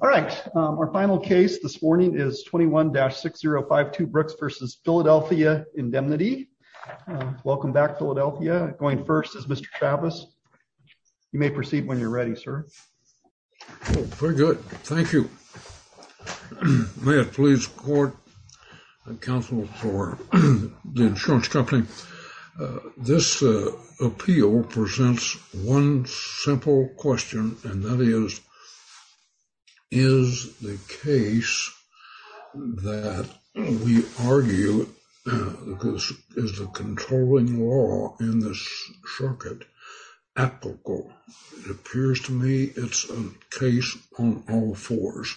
All right, our final case this morning is 21-6052 Brooks v. Philadelphia Indemnity. Welcome back, Philadelphia. Going first is Mr. Chavez. You may proceed when you're ready, sir. Very good, thank you. May it please the court and counsel for the insurance company. This appeal presents one simple question, and that is, is the case that we argue is the controlling law in this circuit applicable? It appears to me it's a case on all fours.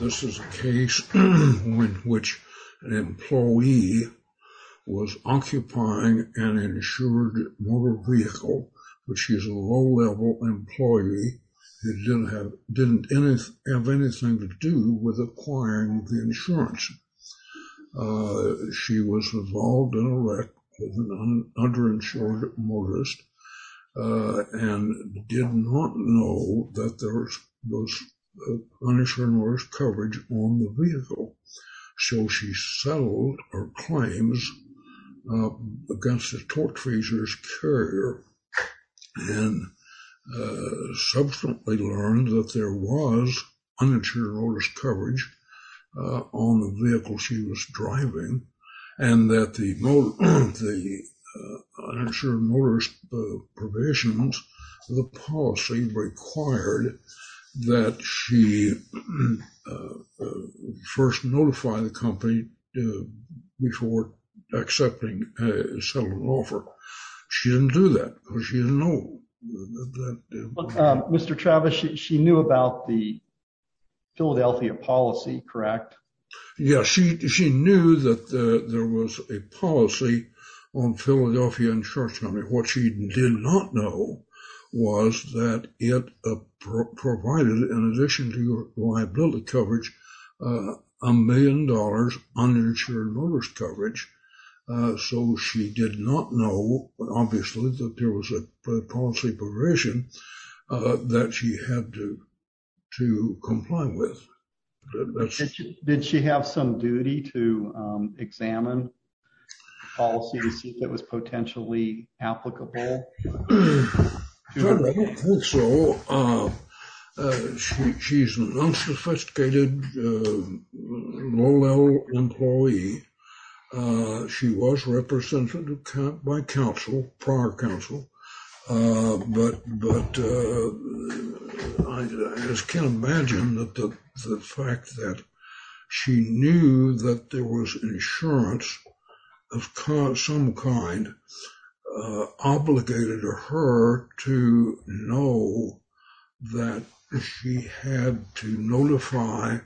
This is a case in which an employee was occupying an insured motor vehicle, which is a low-level employee who didn't have anything to do with acquiring the insurance. She was involved in a wreck of an underinsured motorist and did not know that there was uninsured motorist coverage on the vehicle. So, she settled her claims against the torque carrier and subsequently learned that there was uninsured motorist coverage on the vehicle she was driving and that the uninsured motorist provisions, the policy required that she first notify the company before accepting a settlement offer. She didn't do that because she didn't know. Mr. Chavez, she knew about the Philadelphia policy, correct? Yes, she knew that there was a policy on Philadelphia Insurance Company. What she did not know was that it provided, in addition to your liability coverage, a million dollars uninsured motorist coverage. So, she did not know, obviously, that there was a policy provision that she had to comply with. Did she have some duty to examine the policy to see if it was potentially applicable? I don't think so. She's an unsophisticated low-level employee. She was represented by counsel, prior counsel, but I just can't imagine the fact that she knew that there was insurance of some kind obligated her to know that she had to notify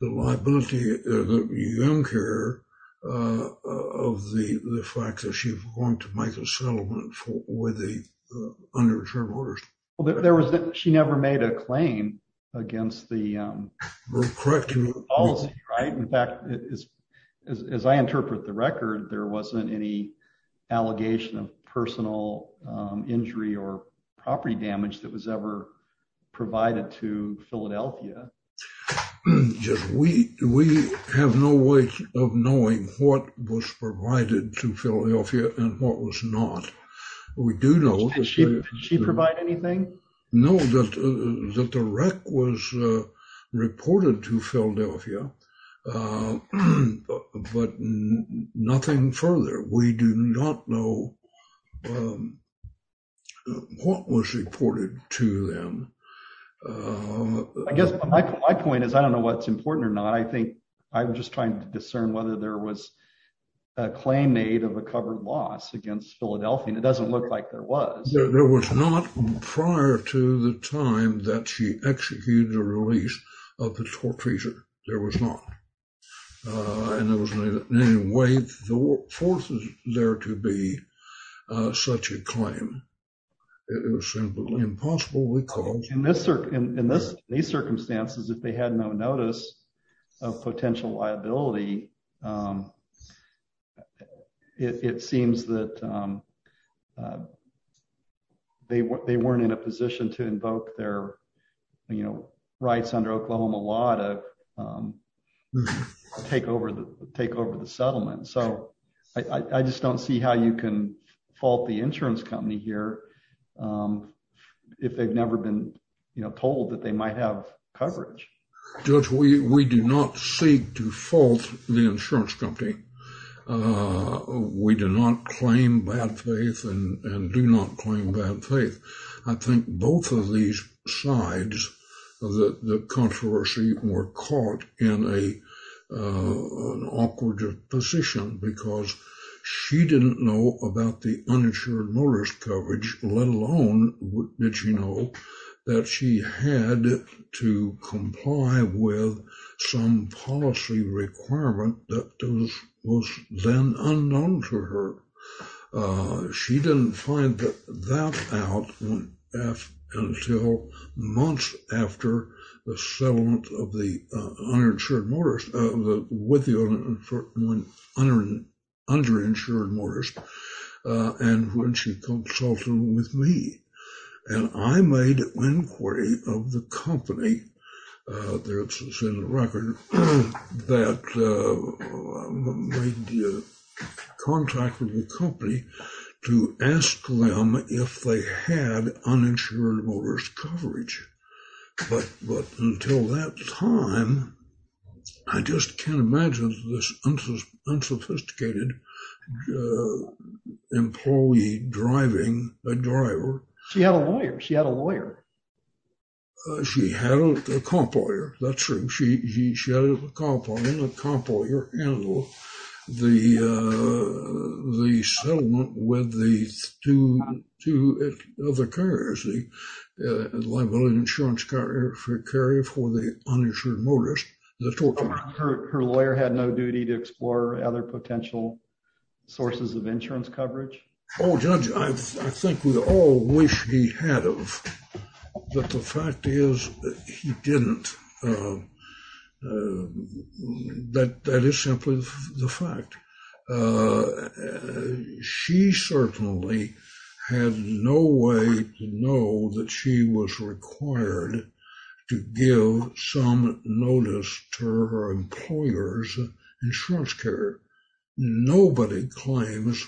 the liability of the young carrier of the fact that she was going to make a settlement with the uninsured motorist. She never made a claim against the policy, right? In fact, as I interpret the record, there wasn't any allegation of personal injury or property damage that was ever provided to Philadelphia. We have no way of knowing what was provided to Philadelphia and what was not. We do know... Did she provide anything? No, that the wreck was reported to Philadelphia, but nothing further. We do not know what was reported to them. I guess my point is, I don't know what's important or not. I think I'm just trying to discern whether there was a claim made of a covered loss against Philadelphia, and it doesn't look like there was. There was not prior to the time that she executed the release of the torturer. There was not. And there was no way for there to be such a claim. It was simply impossible. In these circumstances, if they had no notice of potential liability, it seems that they weren't in a position to invoke their rights under Oklahoma law to take over the settlement. I just don't see how you can fault the insurance company here if they've never been told that they might have coverage. Judge, we do not seek to fault the insurance company. We do not claim bad faith and do not claim bad faith. I think both of these sides of the controversy were caught in an awkward position because she didn't know about the uninsured motorist coverage, let alone did she know that she had to comply with some policy requirement that was then unknown to her. She didn't find that out until months after the settlement with the underinsured motorist and when she consulted with me. And I made an inquiry of the company. There's a record that made contact with the company to ask them if they had uninsured motorist coverage. But until that time, I just can't imagine this unsophisticated employee driving a driver. She had a lawyer. She had a lawyer. She had a cop lawyer. That's true. She had a cop lawyer handle the settlement with the two other carriers, the liability insurance carrier for the uninsured motorist. Her lawyer had no duty to explore other potential sources of insurance coverage? Oh, Judge, I think we all wish he had of, but the fact is he didn't. But that is simply the fact. She certainly had no way to know that she was required to give some notice to her employer's insurance carrier. Nobody claims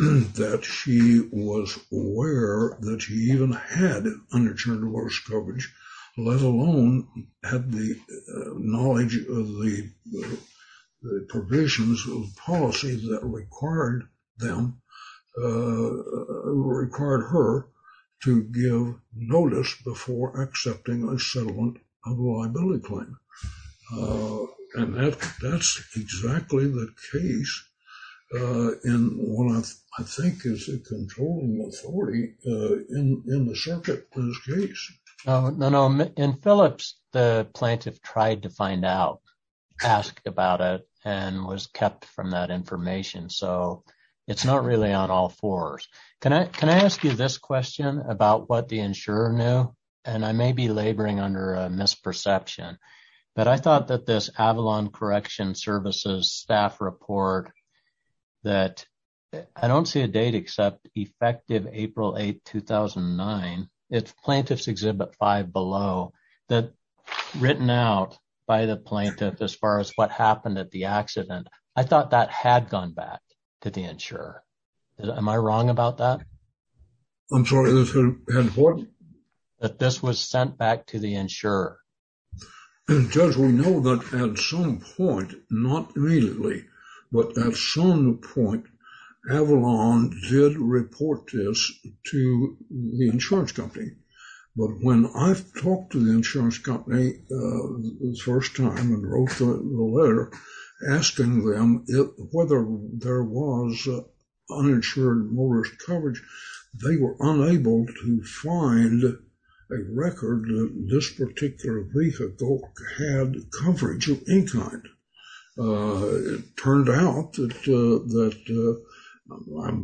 that she was aware that she even had uninsured motorist coverage, let alone had the knowledge of the provisions of policy that required her to give notice before accepting a settlement of a liability claim. And that's exactly the case in what I think is a controlling authority in the circuit for this case. No, no. In Phillips, the plaintiff tried to find out, asked about it, and was kept from that information. So it's not really on all fours. Can I ask you this question about what the insurer knew? And I may be laboring under a misperception, but I thought that this Avalon Correction Services staff report that I don't see a date except effective April 8, 2009. It's Plaintiff's Exhibit 5 below, that written out by the plaintiff as far as what happened at the accident, I thought that had gone back to the insurer. Am I wrong about that? I'm sorry, this had what? That this was sent back to the insurer. And Judge, we know that at some point, not immediately, but at some point, Avalon did report this to the insurance company. But when I talked to the insurance company the first time and wrote the letter asking them whether there was uninsured motorist coverage, they were unable to find a record that this particular vehicle had coverage of any kind. It turned out that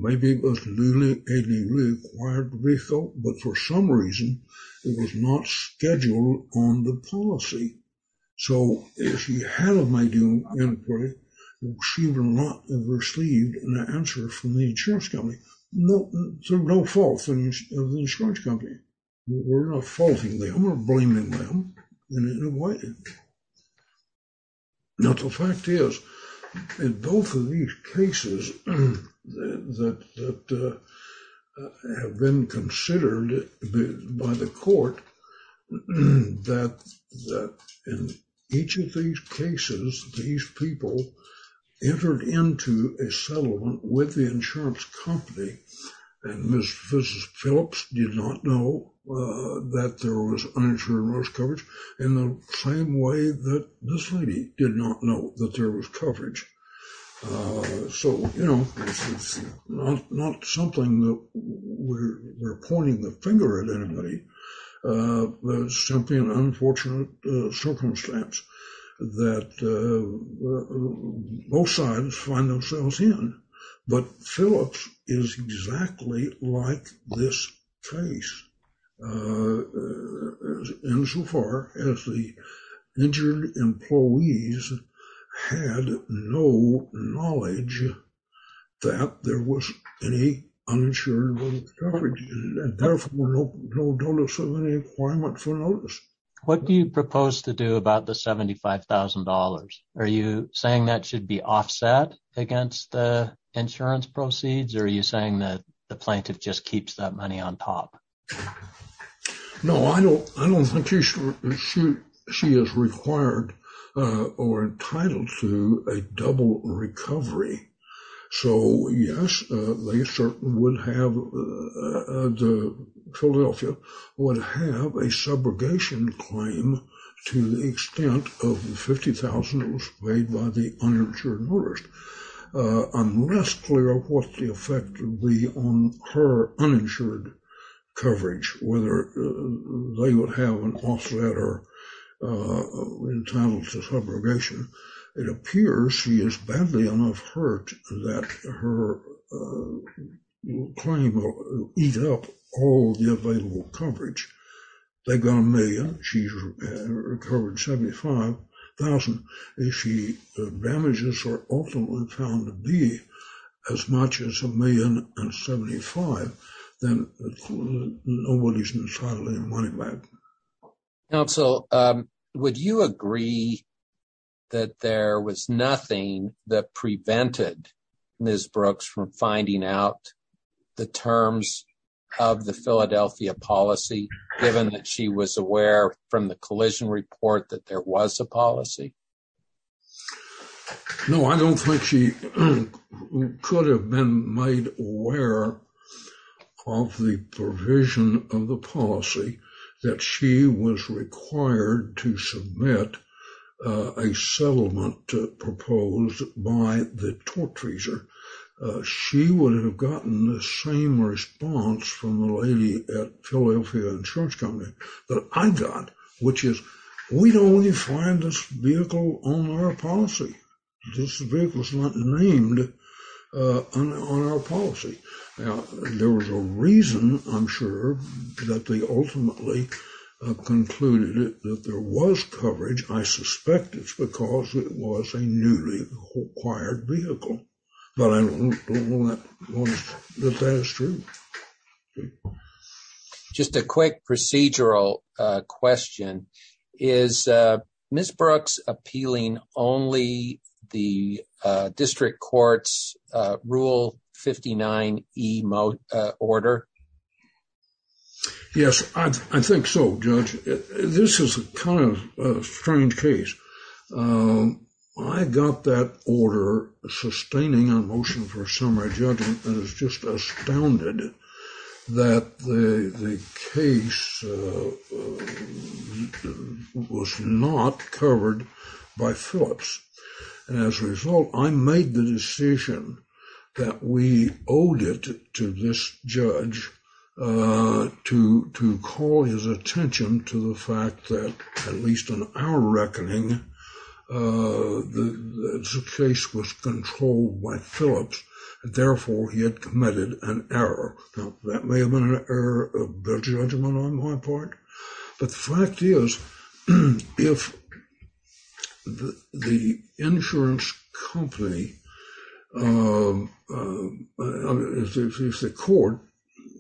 maybe it was a newly acquired vehicle, but for some reason, it was not scheduled on the policy. So if you had a manual inquiry, she would not have received an answer from the insurance company. So no fault of the insurance company. We're not faulting them, we're blaming them. Now, the fact is, in both of these cases that have been considered by the court, that in each of these cases, these people entered into a settlement with the insurance company and Mrs. Phillips did not know that there was uninsured motorist coverage in the same way that this lady did not know that there was coverage. So, you know, it's not something that we're pointing the finger at anybody. It's simply an unfortunate circumstance that both sides find themselves in. But Phillips is exactly like this case, insofar as the injured employees had no knowledge that there was any uninsured motorist coverage. What do you propose to do about the $75,000? Are you saying that should be offset? Against the insurance proceeds? Or are you saying that the plaintiff just keeps that money on top? No, I don't. I don't think she is required or entitled to a double recovery. So yes, they certainly would have the Philadelphia would have a subrogation claim to the extent of the $50,000 paid by the uninsured motorist. I'm less clear of what the effect would be on her uninsured coverage, whether they would have an offset or entitled to subrogation. It appears she is badly enough hurt that her claim will eat up all the available coverage. They got a million, she's recovered $75,000. If the damages are ultimately found to be as much as $1,075,000, then nobody's entitled to their money back. Counsel, would you agree that there was nothing that prevented Ms. Brooks from finding out the terms of the Philadelphia policy, given that she was aware from the collision report that there was a policy? No, I don't think she could have been made aware of the provision of the policy that she was required to submit a settlement proposed by the tort treasurer. She would have gotten the same response from the lady at Philadelphia Insurance Company that I got, which is, we'd only find this vehicle on our policy. This vehicle is not named on our policy. There was a reason, I'm sure, that they ultimately concluded that there was coverage. I suspect it's because it was a newly acquired vehicle, but I don't know that that is true. Just a quick procedural question. Is Ms. Brooks appealing only the district court's Rule 59e order? Yes, I think so, Judge. This is kind of a strange case. I got that order sustaining a motion for a summary judgment and was just astounded that the case was not covered by Phillips. As a result, I made the decision that we owed it to this judge to call his attention to the fact that, at least on our reckoning, the case was controlled by Phillips. Therefore, he had committed an error. Now, that may have been an error of judgment on my part, but the fact is, if the insurance company, if the court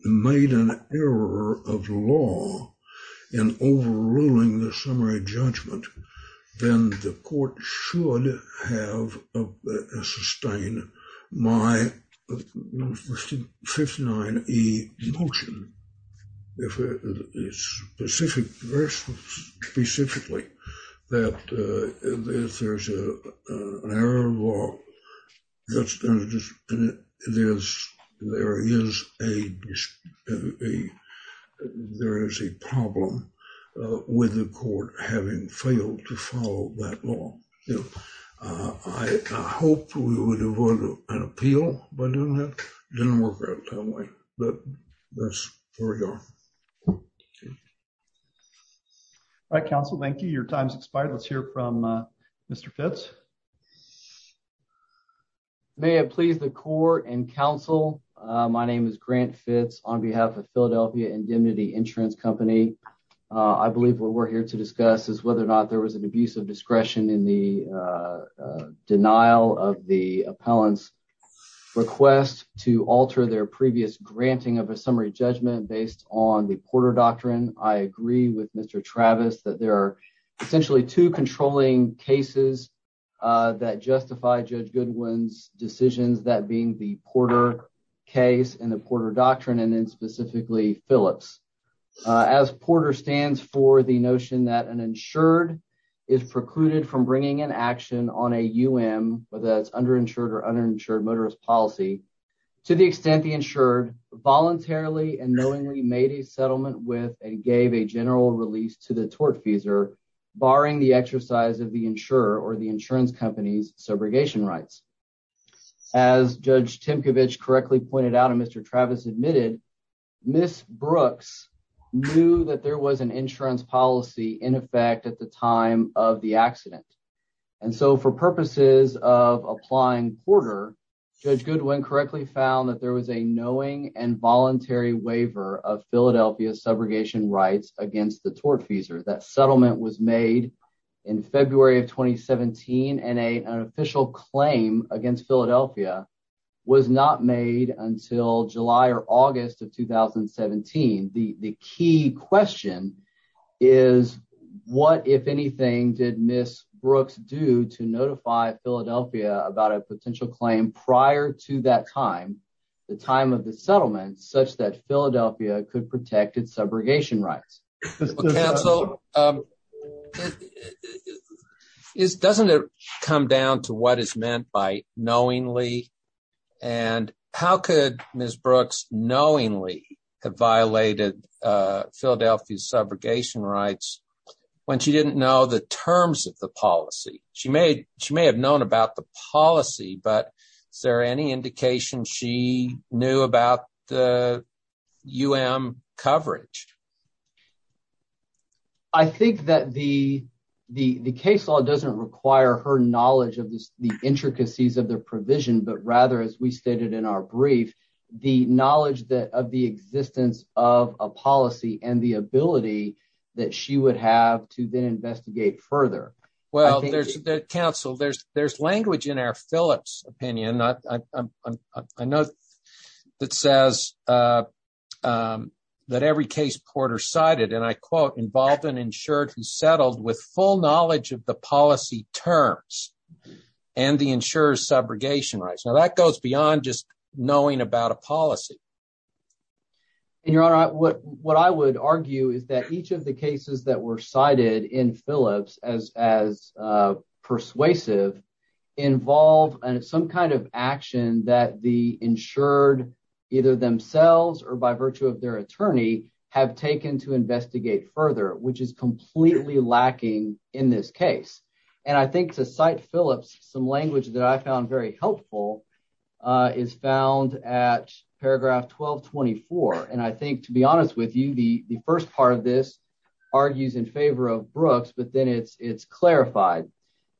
made an error of law in overruling the summary judgment, then the court should have sustained my Rule 59e motion, very specifically, that if there's an error of law, then there is a problem with the court having failed to follow that law. I hope we would have won an appeal by doing that. It didn't work out that way, but that's where we are. All right, counsel. Thank you. Your time has expired. Let's hear from Mr. Fitz. May it please the court and counsel, my name is Grant Fitz on behalf of Philadelphia Indemnity Insurance Company. I believe what we're here to discuss is whether or not there was an abuse of discretion in the denial of the appellant's request to alter their previous granting of a summary judgment based on the Porter Doctrine. I agree with Mr. Travis that there are two controlling cases that justify Judge Goodwin's decisions, that being the Porter case and the Porter Doctrine, and then specifically Phillips. As Porter stands for the notion that an insured is precluded from bringing an action on a UM, whether that's underinsured or uninsured motorist policy, to the extent the insured voluntarily and knowingly made settlement with and gave a general release to the tortfeasor, barring the exercise of the insurer or the insurance company's subrogation rights. As Judge Timkovich correctly pointed out and Mr. Travis admitted, Ms. Brooks knew that there was an insurance policy in effect at the time of the accident. And so for purposes of applying Porter, Judge Goodwin correctly found that there was a subrogation rights against the tortfeasor. That settlement was made in February of 2017 and an official claim against Philadelphia was not made until July or August of 2017. The key question is what, if anything, did Ms. Brooks do to notify Philadelphia about a potential claim prior to that time, the time of the settlement, such that Philadelphia could protect its subrogation rights? Counsel, doesn't it come down to what is meant by knowingly? And how could Ms. Brooks knowingly have violated Philadelphia's subrogation rights when she didn't know the terms of the she knew about the UM coverage? I think that the case law doesn't require her knowledge of the intricacies of the provision, but rather, as we stated in our brief, the knowledge of the existence of a policy and the ability that she would have to then investigate further. Well, Counsel, there's language in our Phillips opinion. I know that says that every case Porter cited, and I quote, involved an insured who settled with full knowledge of the policy terms and the insurer's subrogation rights. Now, that goes beyond just knowing about a policy. Your Honor, what I would argue is that each of the cases that were cited in Phillips as persuasive involve some kind of action that the insured, either themselves or by virtue of their attorney, have taken to investigate further, which is completely lacking in this case. And I think to cite Phillips, some language that I found very helpful is found at paragraph 1224. And I think, to be honest with you, the first part of this argues in favor of Brooks, but then it's clarified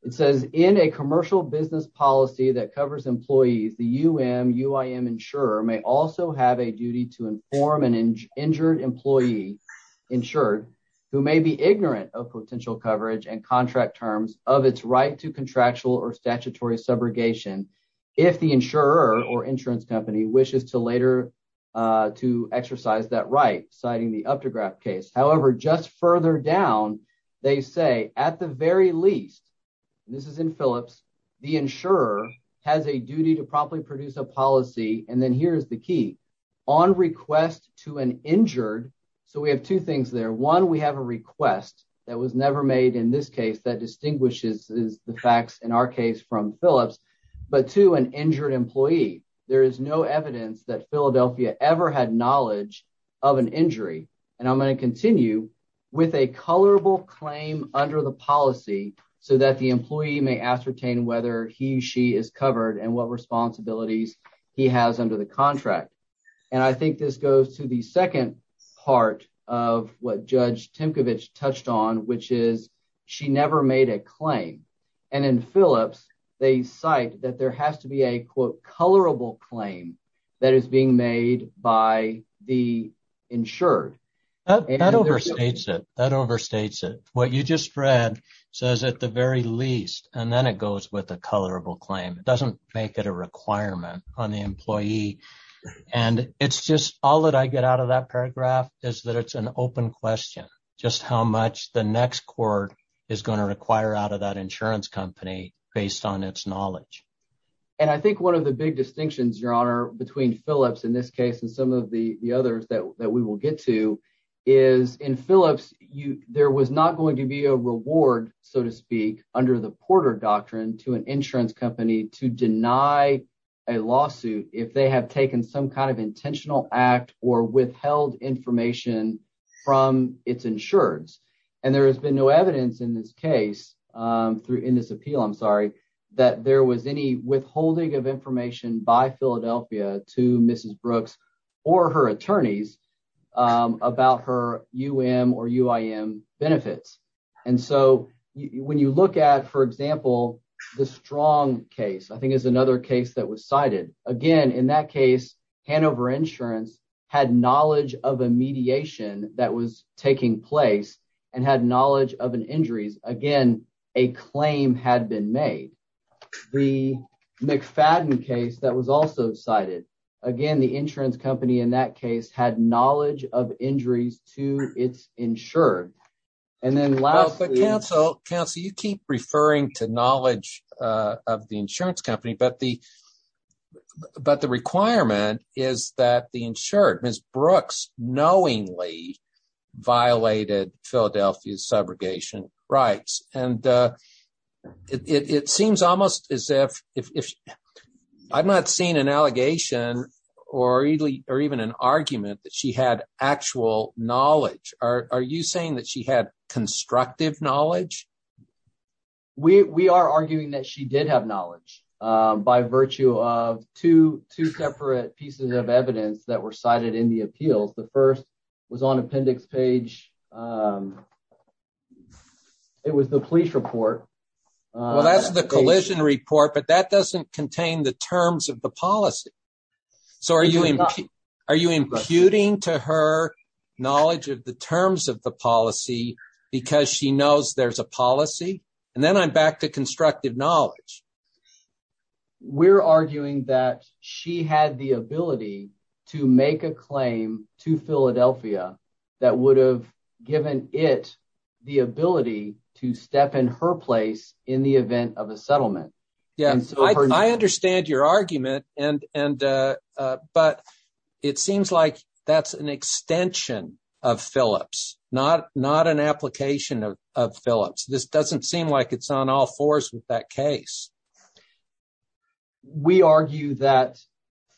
it says in a commercial business policy that covers employees, the UM UIM insurer may also have a duty to inform an injured employee insured who may be ignorant of potential coverage and contract terms of its right to contractual or statutory subrogation. If the insurer or insurance company wishes to later to exercise that right, citing the up to graph case. However, just further down, they say at the very least, this is in Phillips, the insurer has a duty to properly produce a policy. And then here's the key on request to an injured. So we have two things there. One, we have a request that was never made in this case that distinguishes the facts in our case from Phillips, but to an injured employee, there is no evidence that Philadelphia ever had colorable claim under the policy so that the employee may ascertain whether he, she is covered and what responsibilities he has under the contract. And I think this goes to the second part of what judge Timkovich touched on, which is she never made a claim. And in Phillips, they cite that there has to be a quote, colorable claim that is being made by the insured. That overstates it. That overstates it. What you just read says at the very least, and then it goes with a colorable claim. It doesn't make it a requirement on the employee. And it's just all that I get out of that paragraph is that it's an open question, just how much the next court is going to require out of that insurance company based on its knowledge. And I think one of the big distinctions, Your Honor, between Phillips in this case and some of the others that we will get to is in Phillips, there was not going to be a reward, so to speak, under the Porter doctrine to an insurance company to deny a lawsuit if they have taken some kind of intentional act or withheld information from its insureds. And there has been no evidence in this case, in this appeal, I'm sorry, that there was any withholding of information by Philadelphia to Mrs. Brooks or her attorneys about her UM or UIM benefits. And so when you look at, for example, the Strong case, I think is another case that was cited. Again, in that case, Hanover Insurance had knowledge of a mediation that was taking place and had knowledge of an injury. Again, a claim had been made. The McFadden case that was also cited, again, the insurance company in that case had knowledge of injuries to its insured. And then lastly, counsel, counsel, you keep referring to knowledge of the insurance company, but the but the requirement is that the insured Brooks knowingly violated Philadelphia's subrogation rights. And it seems almost as if I've not seen an allegation or even an argument that she had actual knowledge. Are you saying that she had constructive knowledge? We are arguing that she did have knowledge by virtue of two separate pieces of evidence that were cited in the appeals. The first was on appendix page. It was the police report. Well, that's the collision report, but that doesn't contain the terms of the policy. So are you imputing to her knowledge of the terms of the policy because she knows there's a policy? And then I'm back to constructive knowledge. We're arguing that she had the ability to make a claim to Philadelphia that would have given it the ability to step in her place in the event of a settlement. Yeah, I understand your argument. And and but it seems like that's an extension of Phillips, not not an application of Phillips. This doesn't seem like it's on all fours with that case. We argue that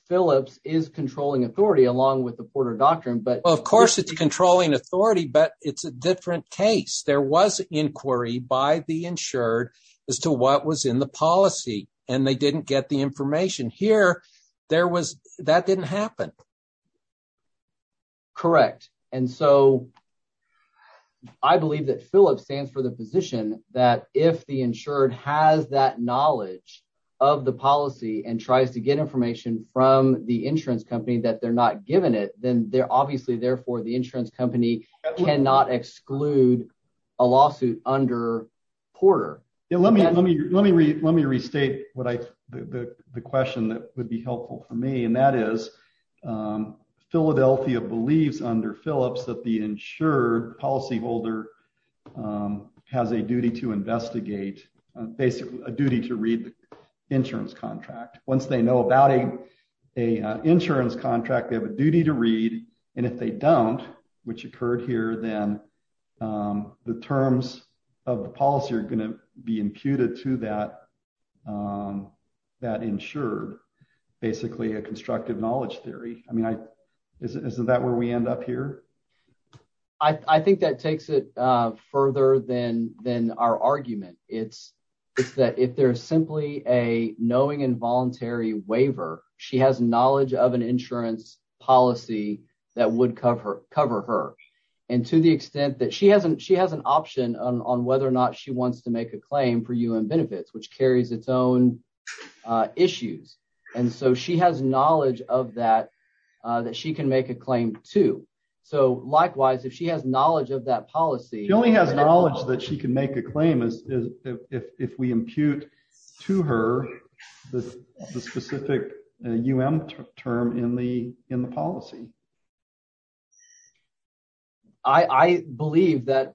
Phillips is controlling authority along with the Porter Doctrine, but of course, it's controlling authority, but it's a different case. There was inquiry by the insured as to what was in the policy and they didn't get the information here. There was that didn't happen. Correct. And so I believe that Phillips stands for the position that if the insured has that knowledge of the policy and tries to get information from the insurance company that they're not given it, then they're obviously therefore the insurance company cannot exclude a lawsuit under Porter. Let me let me let me let me restate what I the question that would be helpful for me, and that is Philadelphia believes under Phillips that the insured policyholder has a duty to investigate, basically a duty to read the insurance contract. Once they know about a insurance contract, they have a duty to read. And if they don't, which occurred here, then the terms of the policy are going to be imputed to that that insured, basically a constructive knowledge theory. I mean, is that where we end up here? I think that takes it further than than our argument. It's it's that if there's simply a knowing involuntary waiver, she has knowledge of an insurance policy that would cover her and to the extent that she hasn't she has an option on whether or not she wants to make a claim for you and benefits, which carries its own issues. And so she has knowledge of that, that she can make a claim to. So likewise, if she has knowledge of that policy, she only has knowledge that she can make claim is if we impute to her the specific term in the in the policy. I believe that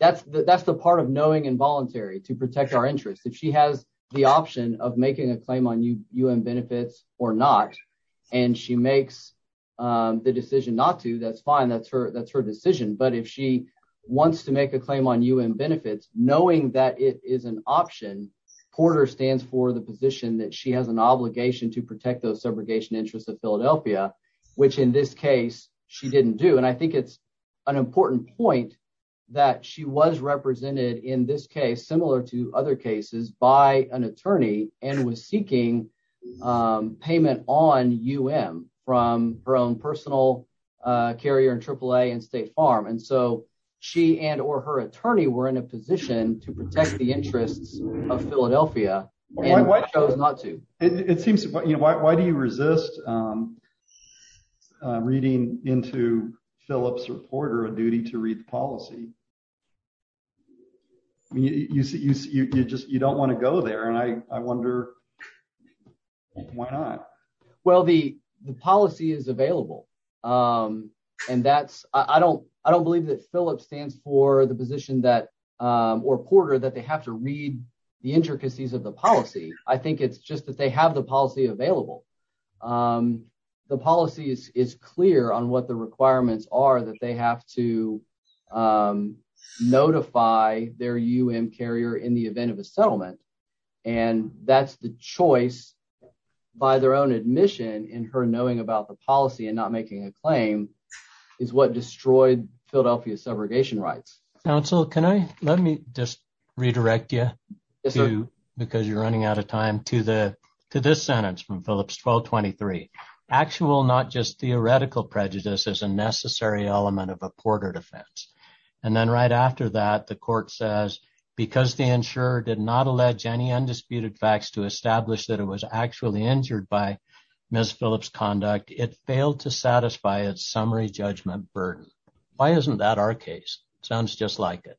that's that's the part of knowing involuntary to protect our interest if she has the option of making a claim on you and benefits or not. And she makes the decision not to. That's fine. That's her. That's knowing that it is an option. Porter stands for the position that she has an obligation to protect those subrogation interests of Philadelphia, which in this case she didn't do. And I think it's an important point that she was represented in this case, similar to other cases by an attorney and was seeking payment on you from her own personal carrier and triple A and State Farm. And so she and or her attorney were in a position to protect the interests of Philadelphia and chose not to. It seems like, you know, why do you resist reading into Phillips reporter a duty to read the policy? I mean, you see, you just you don't want to go there. And I wonder why not? Well, the that Phillips stands for the position that or Porter that they have to read the intricacies of the policy. I think it's just that they have the policy available. The policy is clear on what the requirements are that they have to notify their U.N. carrier in the event of a settlement. And that's the choice by their admission in her knowing about the policy and not making a claim is what destroyed Philadelphia's subrogation rights. Council, can I let me just redirect you to because you're running out of time to the to this sentence from Phillips 1223 actual, not just theoretical prejudice as a necessary element of a Porter defense. And then right after that, the court says because the insurer did not any undisputed facts to establish that it was actually injured by Miss Phillips conduct, it failed to satisfy its summary judgment burden. Why isn't that our case? Sounds just like it.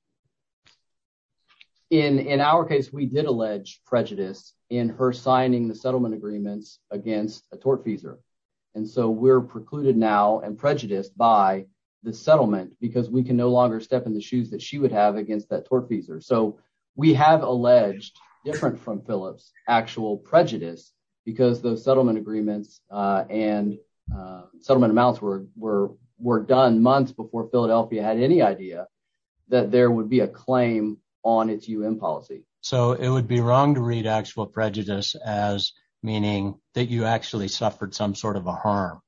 In our case, we did allege prejudice in her signing the settlement agreements against a tortfeasor. And so we're precluded now and prejudiced by the settlement because we can no longer step in the shoes that she would have against that tortfeasor. So we have alleged different from Phillips actual prejudice because those settlement agreements and settlement amounts were were were done months before Philadelphia had any idea that there would be a claim on its U.N. policy. So it would be wrong to read actual prejudice as meaning that you actually suffered some sort of a harm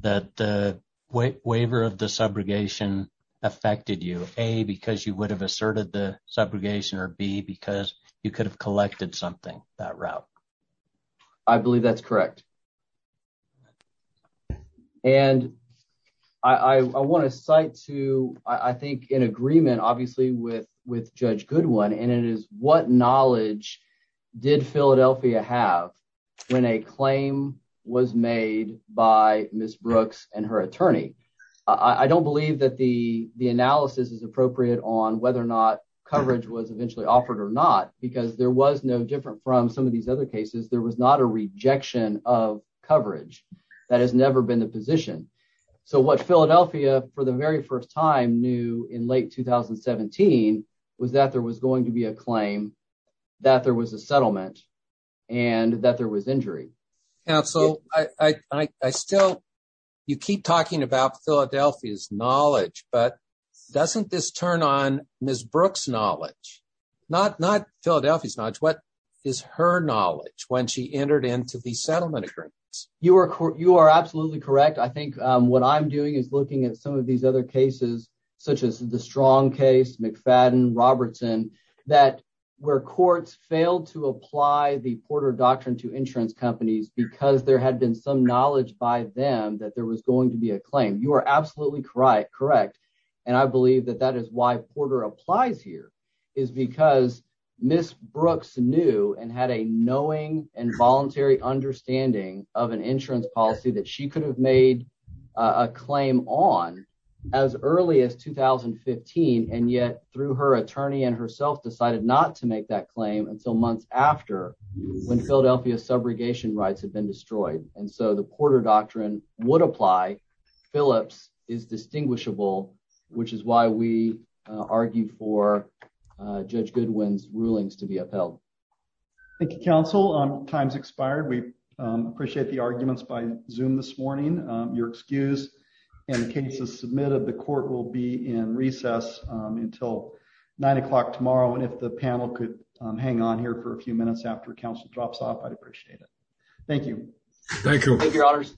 that the waiver of the subrogation affected you, A, because you would have asserted the subrogation or B, because you could have collected something that route. I believe that's correct. And I want to cite to I think in agreement, obviously, with with Judge Goodwin, and it is what knowledge did Philadelphia have when a claim was made by Miss Brooks and her attorney? I don't believe that the the analysis is appropriate on whether or not coverage was eventually offered or not, because there was no different from some of these other cases. There was not a rejection of coverage. That has never been the position. So what Philadelphia for the very first time knew in late 2017 was that there was going to be a claim that there was a settlement and that there was injury. And so I still you keep talking about Philadelphia's knowledge, but doesn't this turn on Miss Brooks knowledge, not not Philadelphia's knowledge? What is her knowledge when she entered into the settlement agreements? You are you are absolutely correct. I think what I'm doing is looking at some of these other cases, such as the strong case McFadden Robertson, that where courts failed to apply the Porter doctrine to insurance companies because there had been some knowledge by them that there was going to be a claim. You are absolutely correct. Correct. And I believe that that is why Porter applies here is because Miss Brooks knew and had a knowing and voluntary understanding of an insurance policy that she could have made a claim on as early as 2015 and yet through her attorney and herself decided not to make that claim until months after when Philadelphia's subrogation rights had been destroyed. And so the Porter doctrine would apply. Phillips is distinguishable, which is why we argue for Judge Goodwin's rulings to be upheld. Thank you, counsel. Time's expired. We appreciate the arguments by this morning. Your excuse and cases submitted. The court will be in recess until nine o'clock tomorrow. And if the panel could hang on here for a few minutes after counsel drops off, I'd appreciate it. Thank you. Thank you. Thank you, honors.